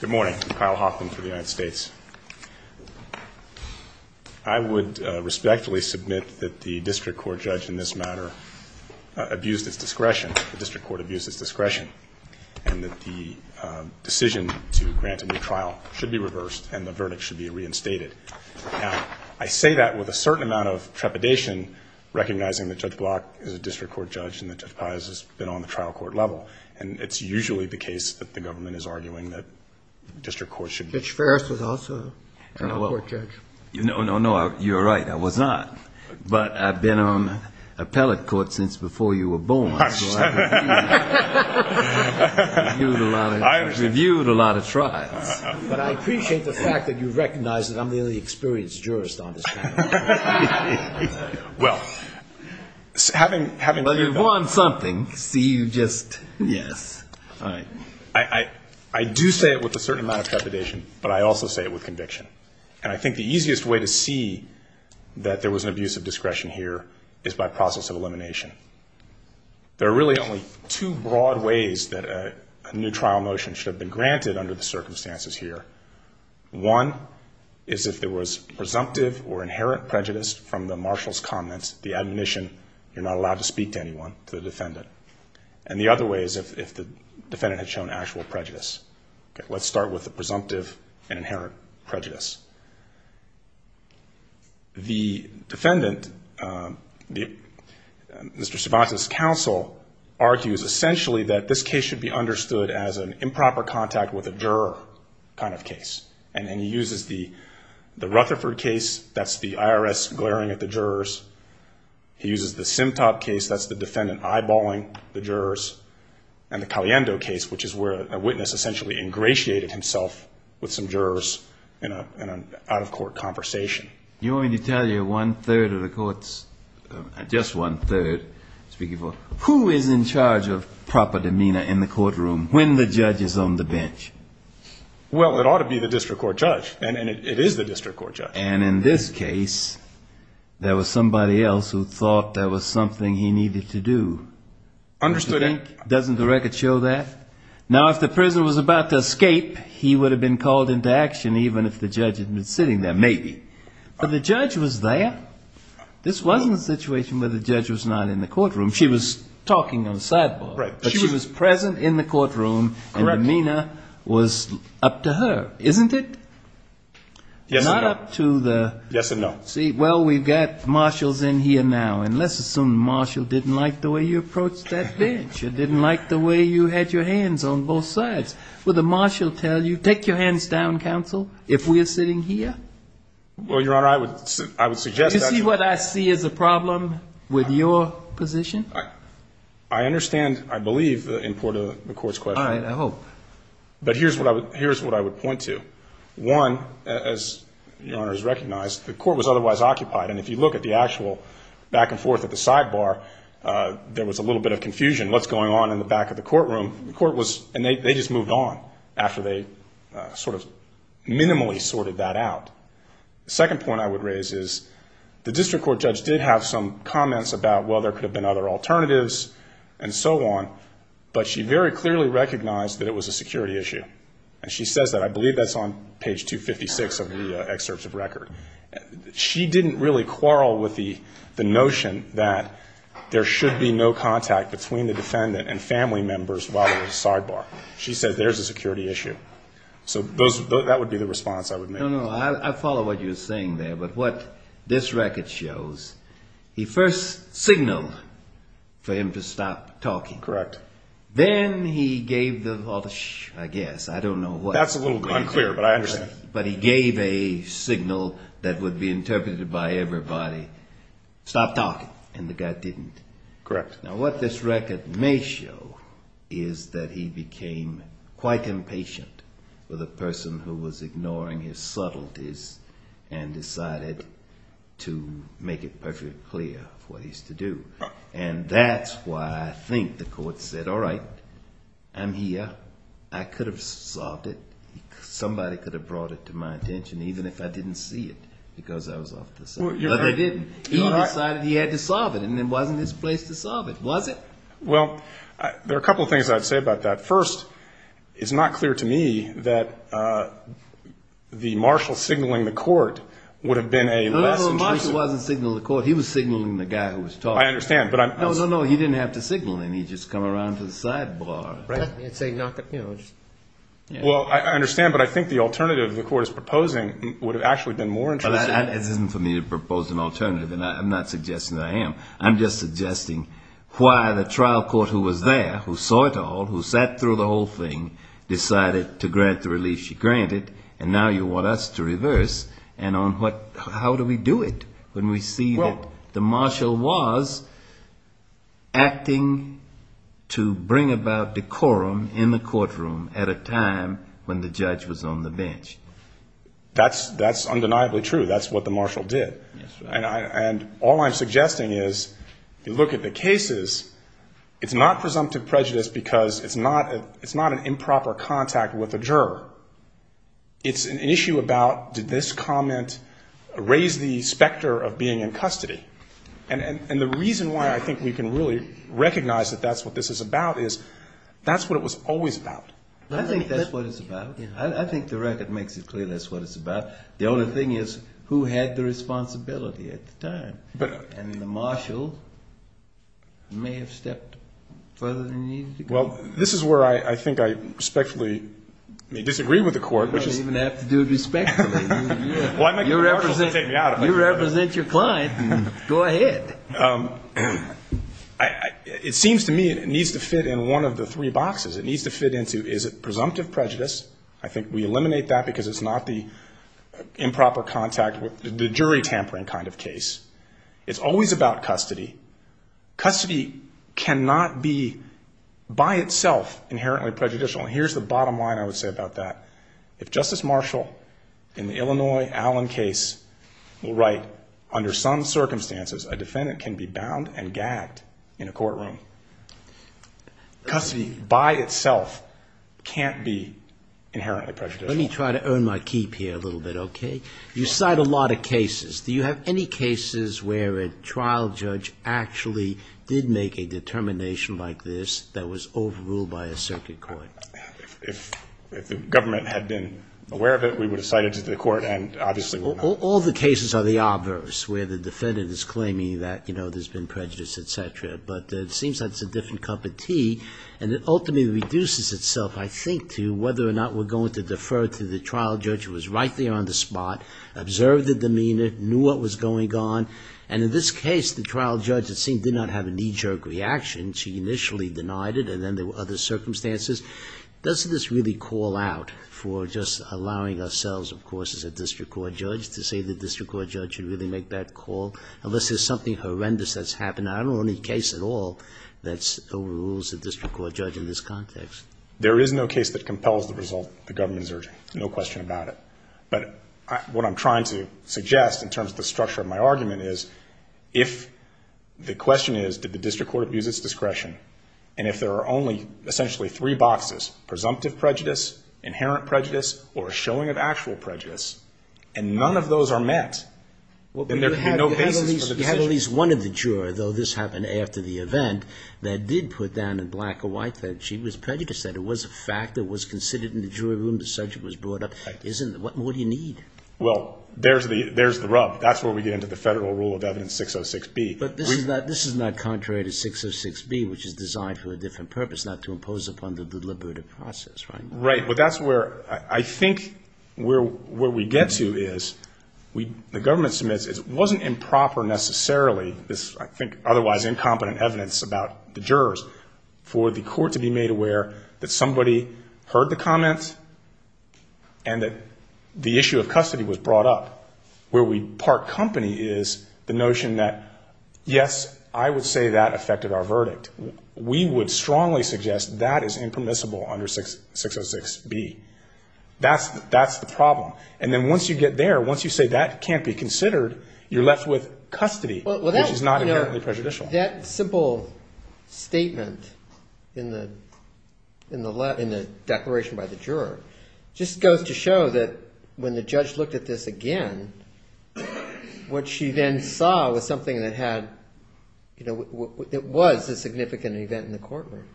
Good morning. I'm Kyle Hoffman for the United States. I would respectfully submit that the district court judge in this matter abused its discretion, the district court abused its discretion, and that the decision to grant a new trial should be reversed and the verdict should be reinstated. Now, I say that with a certain amount of trepidation, recognizing that Judge Block is a district court judge and that Judge Pius has been on the trial court level. And it's usually the case that the government is arguing that district courts should be- Judge Farris was also a trial court judge. No, no, no. You're right. I was not. But I've been on appellate court since before you were born, so I've reviewed a lot of trials. I understand. But I appreciate the fact that you recognize that I'm the only experienced jurist on this panel. Well, having- Well, you've won something, so you just, yes. I do say it with a certain amount of trepidation, but I also say it with conviction. And I think the easiest way to see that there was an abuse of discretion here is by process of elimination. There are really only two broad ways that a new trial motion should have been granted under the circumstances here. One is if there was presumptive or inherent prejudice from the marshal's comments, the admonition, you're not allowed to speak to anyone, to the defendant. And the other way is if the defendant had shown actual prejudice. Let's start with the presumptive and inherent prejudice. The defendant, Mr. Cervantes' counsel argues essentially that this case should be understood as an improper contact with a juror kind of case. And he uses the Rutherford case, that's the IRS glaring at the jurors. He uses the Simtop case, that's the defendant eyeballing the jurors. And the Caliendo case, which is where a witness essentially ingratiated himself with some jurors in an out-of-court conversation. You want me to tell you one-third of the courts, just one-third, speaking for, who is in charge of proper demeanor in the courtroom when the judge is on the bench? Well, it ought to be the district court judge. And it is the district court judge. And in this case, there was somebody else who thought there was something he needed to do. Understood. Don't you think? Doesn't the record show that? Now, if the prisoner was about to escape, he would have been called into action even if the judge had been sitting there. Maybe. But the judge was there. This wasn't a situation where the judge was not in the courtroom. She was talking on the sidebar. Right. But she was present in the courtroom. Correct. And demeanor was up to her, isn't it? Yes, it was. It was up to the... Yes and no. See, well, we've got marshals in here now. And let's assume the marshal didn't like the way you approached that bench. He didn't like the way you had your hands on both sides. Would the marshal tell you, take your hands down, counsel, if we're sitting here? Well, Your Honor, I would suggest that... Do you see what I see as a problem with your position? I understand, I believe, the importance of the court's question. All right. I hope. But here's what I would point to. One, as Your Honor has recognized, the court was otherwise occupied. And if you look at the actual back and forth at the sidebar, there was a little bit of confusion. What's going on in the back of the courtroom? The court was... And they just moved on after they sort of minimally sorted that out. The second point I would raise is the district court judge did have some comments about, well, there could have been other alternatives and so on. But she very clearly recognized that it was a security issue. And she says that. I believe that's on page 256 of the excerpts of record. She didn't really quarrel with the notion that there should be no contact between the defendant and family members while at the sidebar. She said there's a security issue. So that would be the response I would make. No, no. I follow what you're saying there. But what this record shows, he first signaled for him to stop talking. Correct. Then he gave the... I guess. I don't know what... That's a little unclear, but I understand. But he gave a signal that would be interpreted by everybody, stop talking. And the guy didn't. Correct. Now what this record may show is that he became quite impatient with a person who was ignoring his subtleties and decided to make it perfectly clear what he's to do. And that's why I think the court said, all right, I'm here. I could have solved it. Somebody could have brought it to my attention, even if I didn't see it, because I was off the side. But they didn't. He decided he had to solve it, and it wasn't his place to solve it, was it? Well, there are a couple of things I'd say about that. First, it's not clear to me that the marshal signaling the court would have been a less intrusive... No, no, no. The marshal wasn't signaling the court. He was signaling the guy who was talking. I understand, but I'm... No, no, no. He didn't have to signal him. He'd just come around to the side bar. Right. And say, knock it, you know, just... Well, I understand, but I think the alternative the court is proposing would have actually been more intrusive. But that isn't for me to propose an alternative, and I'm not suggesting that I am. I'm just suggesting why the trial court who was there, who saw it all, who sat through the whole thing, decided to grant the relief she granted, and now you want us to reverse. And on what... How do we do it when we see that the marshal was acting to bring about decorum in the courtroom at a time when the judge was on the bench? That's undeniably true. That's what the marshal did. And all I'm suggesting is, if you look at the cases, it's not presumptive prejudice because it's not an improper contact with the court. The court raised the specter of being in custody. And the reason why I think we can really recognize that that's what this is about is, that's what it was always about. I think that's what it's about. I think the record makes it clear that's what it's about. The only thing is, who had the responsibility at the time? And the marshal may have stepped further than he needed to go. Well, this is where I think I respectfully may disagree with the court, which is... You don't even have to do respectfully. You represent your client. Go ahead. It seems to me it needs to fit in one of the three boxes. It needs to fit into, is it presumptive prejudice? I think we eliminate that because it's not the improper contact, the jury tampering kind of case. It's always about custody. Custody cannot be by itself inherently prejudicial. Here's the bottom line I would say about that. If Justice Marshall in the Illinois Allen case will write, under some circumstances, a defendant can be bound and gagged in a courtroom, custody by itself can't be inherently prejudicial. Let me try to earn my keep here a little bit, okay? You cite a lot of cases. Do you have any cases where a trial judge actually did make a determination like this that was overruled by a circuit court? If the government had been aware of it, we would have cited it to the court and obviously would not. All the cases are the obverse, where the defendant is claiming that there's been prejudice, etc. But it seems like it's a different cup of tea. And it ultimately reduces itself, I think, to whether or not we're going to defer to the trial judge who was right there on the spot, observed the demeanor, knew what was going on. And in this case, the trial judge, it seems, did not have a knee-jerk reaction. She initially denied it, and then there were other circumstances. Does this really call out for just allowing ourselves, of course, as a district court judge, to say the district court judge should really make that call? Unless there's something horrendous that's happened. I don't know any case at all that overrules a district court judge in this context. There is no case that compels the result the government is urging, no question about it. But what I'm trying to suggest in terms of the structure of my argument is, if the question is, did the district court abuse its discretion, and if there are only essentially three boxes, presumptive prejudice, inherent prejudice, or a showing of actual prejudice, and none of those are met, then there can be no basis for the decision. You have at least one of the juror, though this happened after the event, that did put down in black or white that she was prejudiced, that it was a fact, that it was considered in the jury room, the subject was brought up. What more do you need? Well, there's the rub. That's where we get into the Federal Rule of Evidence 606B. But this is not contrary to 606B, which is designed for a different purpose, not to impose upon the deliberative process, right? Right. But that's where I think where we get to is, the government submits, it wasn't improper necessarily, this I think otherwise incompetent evidence about the jurors, for the court to be made aware that somebody heard the comments and that the issue of custody was brought up, where we part company is the notion that, yes, I would say that affected our verdict. We would strongly suggest that is impermissible under 606B. That's the problem. And then once you get there, once you say that can't be considered, you're left with custody, which is not inherently prejudicial. That simple statement in the declaration by the juror just goes to show that when the court heard it again, what she then saw was something that had, you know, it was a significant event in the courtroom.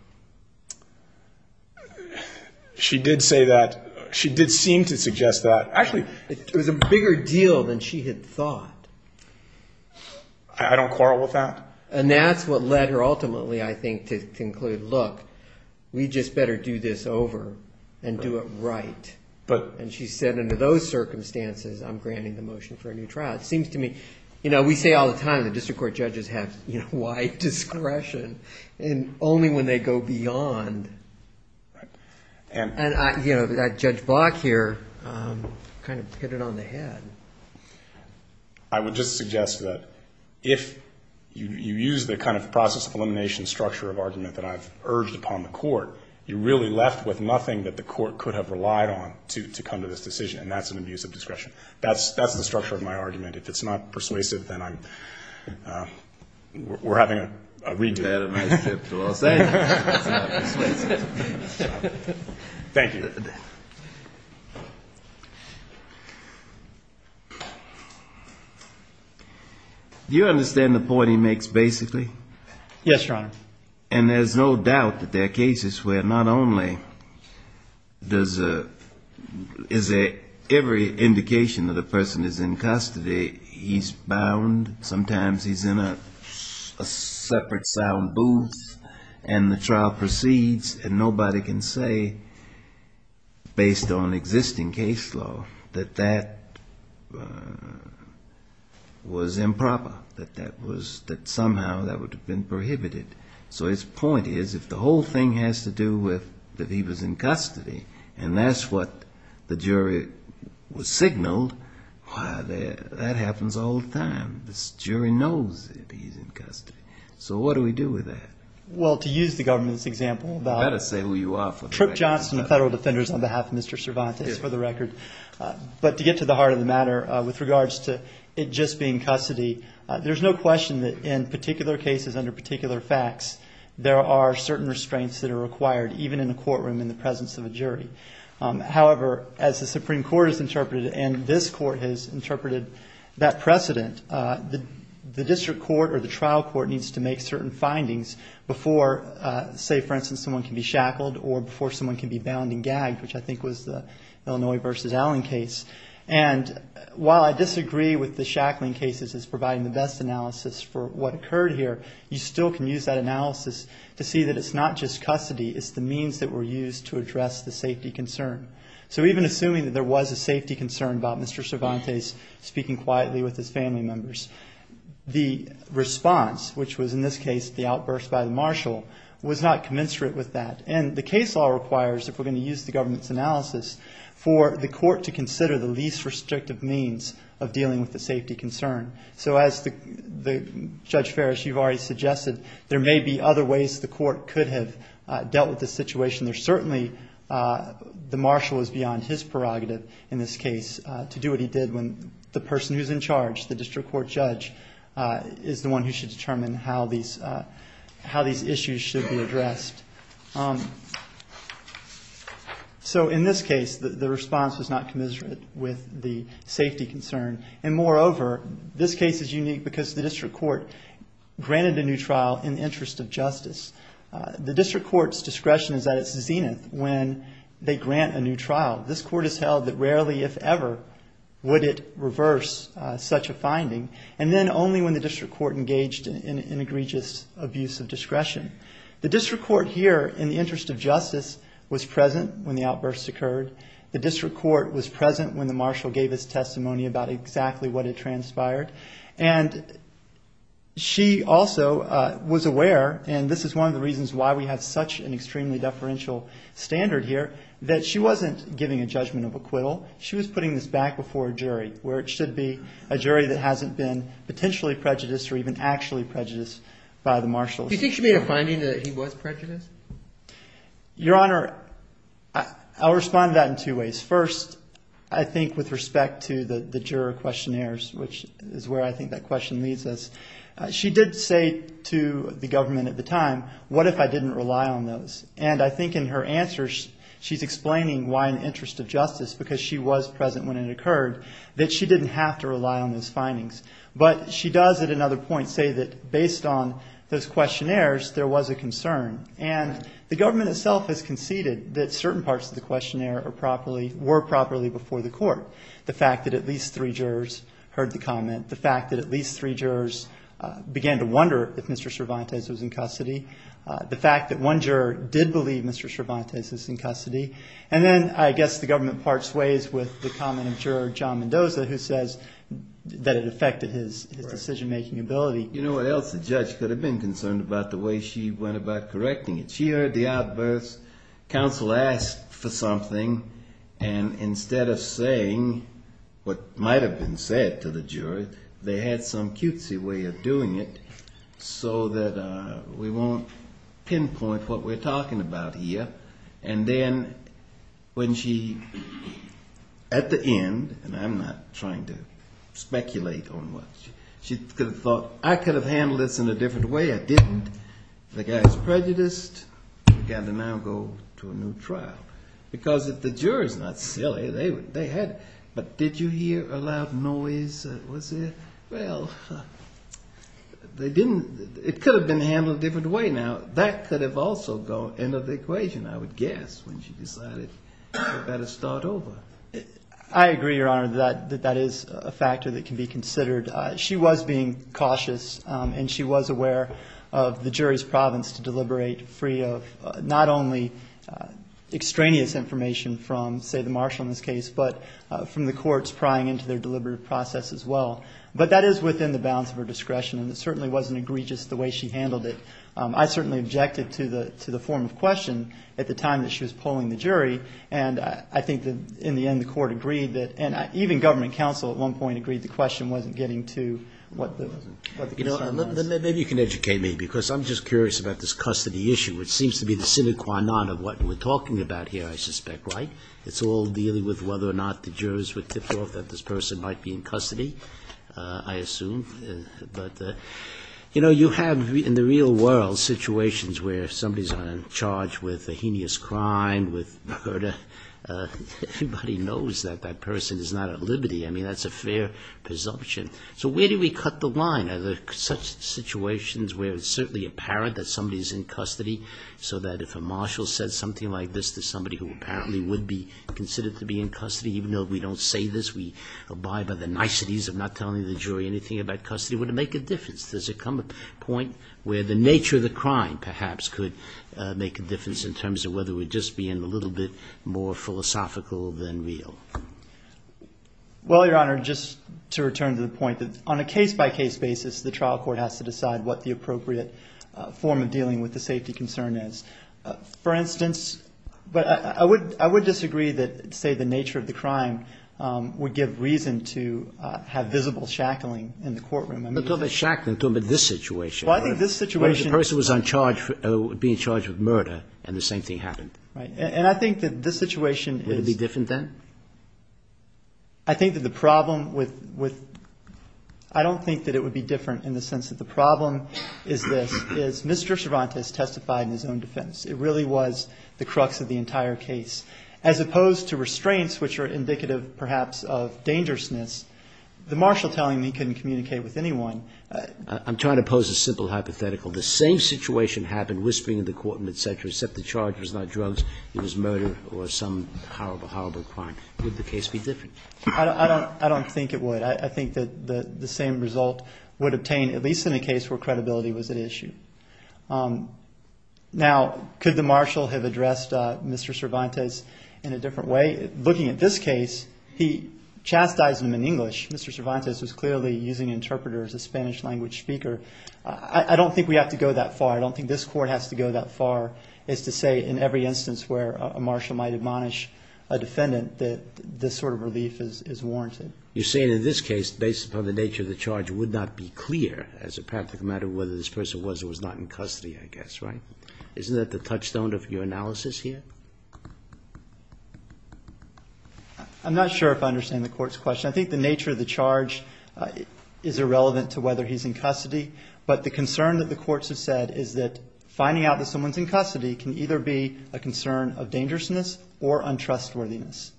She did say that. She did seem to suggest that. Actually, it was a bigger deal than she had thought. I don't quarrel with that. And that's what led her ultimately, I think, to conclude, look, we just better do this over and do it right. And she said under those circumstances, I'm granting the motion for a new trial. It seems to me, you know, we say all the time the district court judges have wide discretion, and only when they go beyond, and, you know, that Judge Block here kind of hit it on the head. I would just suggest that if you use the kind of process of elimination structure of argument that I've urged upon the court, you're really left with nothing that the court could have relied on to come to this decision, and that's an abuse of discretion. That's the structure of my argument. If it's not persuasive, then I'm, we're having a re-do. We've had a nice trip to Los Angeles. Thank you. Do you understand the point he makes, basically? Yes, Your Honor. And there's no doubt that there are cases where not only does a, is a, every indication that a person is in custody, he's bound, sometimes he's in a separate sound booth, and the trial proceeds, and nobody can say, based on existing case law, that that was improper, that that was, that somehow that would have been prohibited. So his point is, if the whole thing has to do with that he was in custody, and that's what the jury was signaled, why, that happens all the time. This jury knows that he's in custody. So what do we do with that? Well, to use the government's example about... You better say who you are for the record. Tripp Johnson, the federal defenders, on behalf of Mr. Cervantes, for the record. But to get to the heart of the matter, with regards to it just being custody, there's no question that in particular cases, under particular facts, there are certain restraints that are required, even in a courtroom in the presence of a jury. However, as the Supreme Court has interpreted it, and this Court has interpreted that precedent, the district court or the trial court needs to make certain findings before, say, for instance, someone can be shackled or before someone can be bound and gagged, which I think was the Illinois v. Allen case. And while I disagree with the shackling cases as providing the best analysis for what occurred here, you still can use that analysis to see that it's not just custody, it's the means that were used to address the safety concern. So even assuming that there was a safety concern about Mr. Cervantes speaking quietly with his family members, the response, which was in this case the outburst by the marshal, was not commensurate with that. And the case law requires, if we're going to use the government's analysis, for the Court to consider the least restrictive means of dealing with the safety concern. So as Judge Ferris, you've already suggested, there may be other ways the Court could have dealt with this situation. There certainly, the marshal is beyond his prerogative in this case to do what he did when the person who's in charge, the district court judge, is the one who should have addressed. So in this case, the response was not commensurate with the safety concern. And moreover, this case is unique because the district court granted a new trial in the interest of justice. The district court's discretion is at its zenith when they grant a new trial. This court has held that rarely, if ever, would it reverse such a finding. And then only when the district court engaged in egregious abuse of discretion. The district court here, in the interest of justice, was present when the outburst occurred. The district court was present when the marshal gave his testimony about exactly what had transpired. And she also was aware, and this is one of the reasons why we have such an extremely deferential standard here, that she wasn't giving a judgment of acquittal. She was putting this back before a jury, where it should be a jury that hasn't been potentially prejudiced or even actually prejudiced by the marshal. Do you think she made a finding that he was prejudiced? Your Honor, I'll respond to that in two ways. First, I think with respect to the juror questionnaires, which is where I think that question leads us, she did say to the government at the time, what if I didn't rely on those? And I think in her answers, she's explaining why in the case when it occurred, that she didn't have to rely on those findings. But she does at another point say that based on those questionnaires, there was a concern. And the government itself has conceded that certain parts of the questionnaire were properly before the court. The fact that at least three jurors heard the comment, the fact that at least three jurors began to wonder if Mr. Cervantes was in custody, the fact that one juror did believe Mr. Cervantes is in custody. And then I guess the government parts ways with the comment of Juror John Mendoza, who says that it affected his decision-making ability. You know what else the judge could have been concerned about? The way she went about correcting it. She heard the outbursts. Counsel asked for something. And instead of saying what might have been said to the jury, they had some cutesy way of doing it so that we won't pinpoint what we're talking about here. And then when she, at the end, and I'm not trying to speculate on what, she could have thought, I could have handled this in a different way. I didn't. The guy's prejudiced. I've got to now go to a new trial. Because if the juror's not silly, they had, but did you hear a loud noise? Well, they didn't. It could have been handled a different way. Now, that could have also gone into the equation, I would guess, when she decided it better start over. I agree, Your Honor, that that is a factor that can be considered. She was being cautious, and she was aware of the jury's province to deliberate free of not only extraneous information from, say, the marshal in this case, but from the courts prying into their deliberative process as well. But that is within the bounds of her discretion, and it certainly wasn't egregious the way she handled it. I certainly objected to the form of question at the time that she was polling the jury. And I think that, in the end, the court agreed that, and even government counsel, at one point, agreed the question wasn't getting to what the question was. Maybe you can educate me, because I'm just curious about this custody issue, which seems to be the sine qua non of what we're talking about here, I suspect, right? It's all dealing with whether or not the jurors would tip off that this person might be in custody, I assume. But, you know, you have, in the real world, situations where somebody's on charge with a heinous crime, with murder. Everybody knows that that person is not at liberty. I mean, that's a fair presumption. So where do we cut the line? Are there such situations where it's certainly apparent that somebody's in custody, so that if a marshal says something like this to somebody who apparently would be considered to be in custody, even though we don't say this, we abide by the niceties of not telling the jury anything about custody, would it make a difference? Does it come to a point where the nature of the crime, perhaps, could make a difference in terms of whether we're just being a little bit more philosophical than real? Well, Your Honor, just to return to the point that on a case-by-case basis, the trial court has to decide what the appropriate form of dealing with the safety concern is. For instance But I would disagree that, say, the nature of the crime would give reason to have visible shackling in the courtroom. I'm not talking about shackling. I'm talking about this situation. Well, I think this situation Where the person was on charge, would be in charge of murder, and the same thing happened. Right. And I think that this situation is Would it be different then? I think that the problem with – I don't think that it would be different in the sense that the problem is this, is Mr. Cervantes testified in his own defense. It really was the crux of the entire case. As opposed to restraints, which are indicative, perhaps, of dangerousness, the marshal telling me he couldn't communicate with anyone I'm trying to pose a simple hypothetical. The same situation happened, whispering in the courtroom, et cetera, except the charge was not drugs. It was murder or some horrible, horrible crime. Would the case be different? I don't think it would. I think that the same result would obtain, at least in a case where credibility was at issue. Now, could the marshal have addressed Mr. Cervantes in a different way? Looking at this case, he chastised him in English. Mr. Cervantes was clearly using an interpreter as a Spanish-language speaker. I don't think we have to go that far. I don't think this Court has to go that far as to say in every instance where a marshal might admonish a defendant that this sort of relief is warranted. You're saying in this case, based upon the nature of the charge, it would not be clear as a practical matter whether this person was or was not in custody, I guess, right? Isn't that the touchstone of your analysis here? I'm not sure if I understand the Court's question. I think the nature of the charge is irrelevant to whether he's in custody, but the concern that the courts have said is that finding out that someone's in custody can either be a concern of dangerousness or untrustworthiness.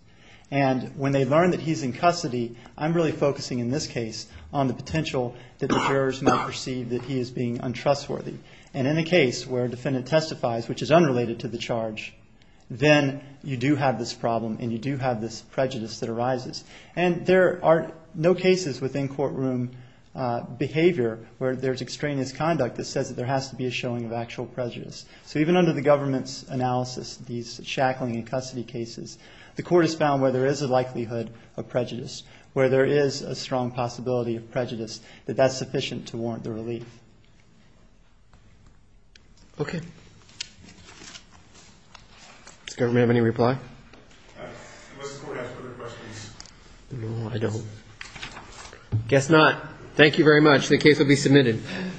And when they learn that he's in custody, I'm really focusing in this case on the potential that the jurors may perceive that he is being untrustworthy. And in a case where a defendant testifies, which is unrelated to the charge, then you do have this problem and you do have this prejudice that arises. And there are no cases within courtroom behavior where there's extraneous conduct that says that there has to be a showing of actual prejudice. So even under the government's analysis, these shackling in custody cases, the Court has found where there is a likelihood of prejudice, where there is a strong possibility of prejudice, that that's sufficient to warrant the relief.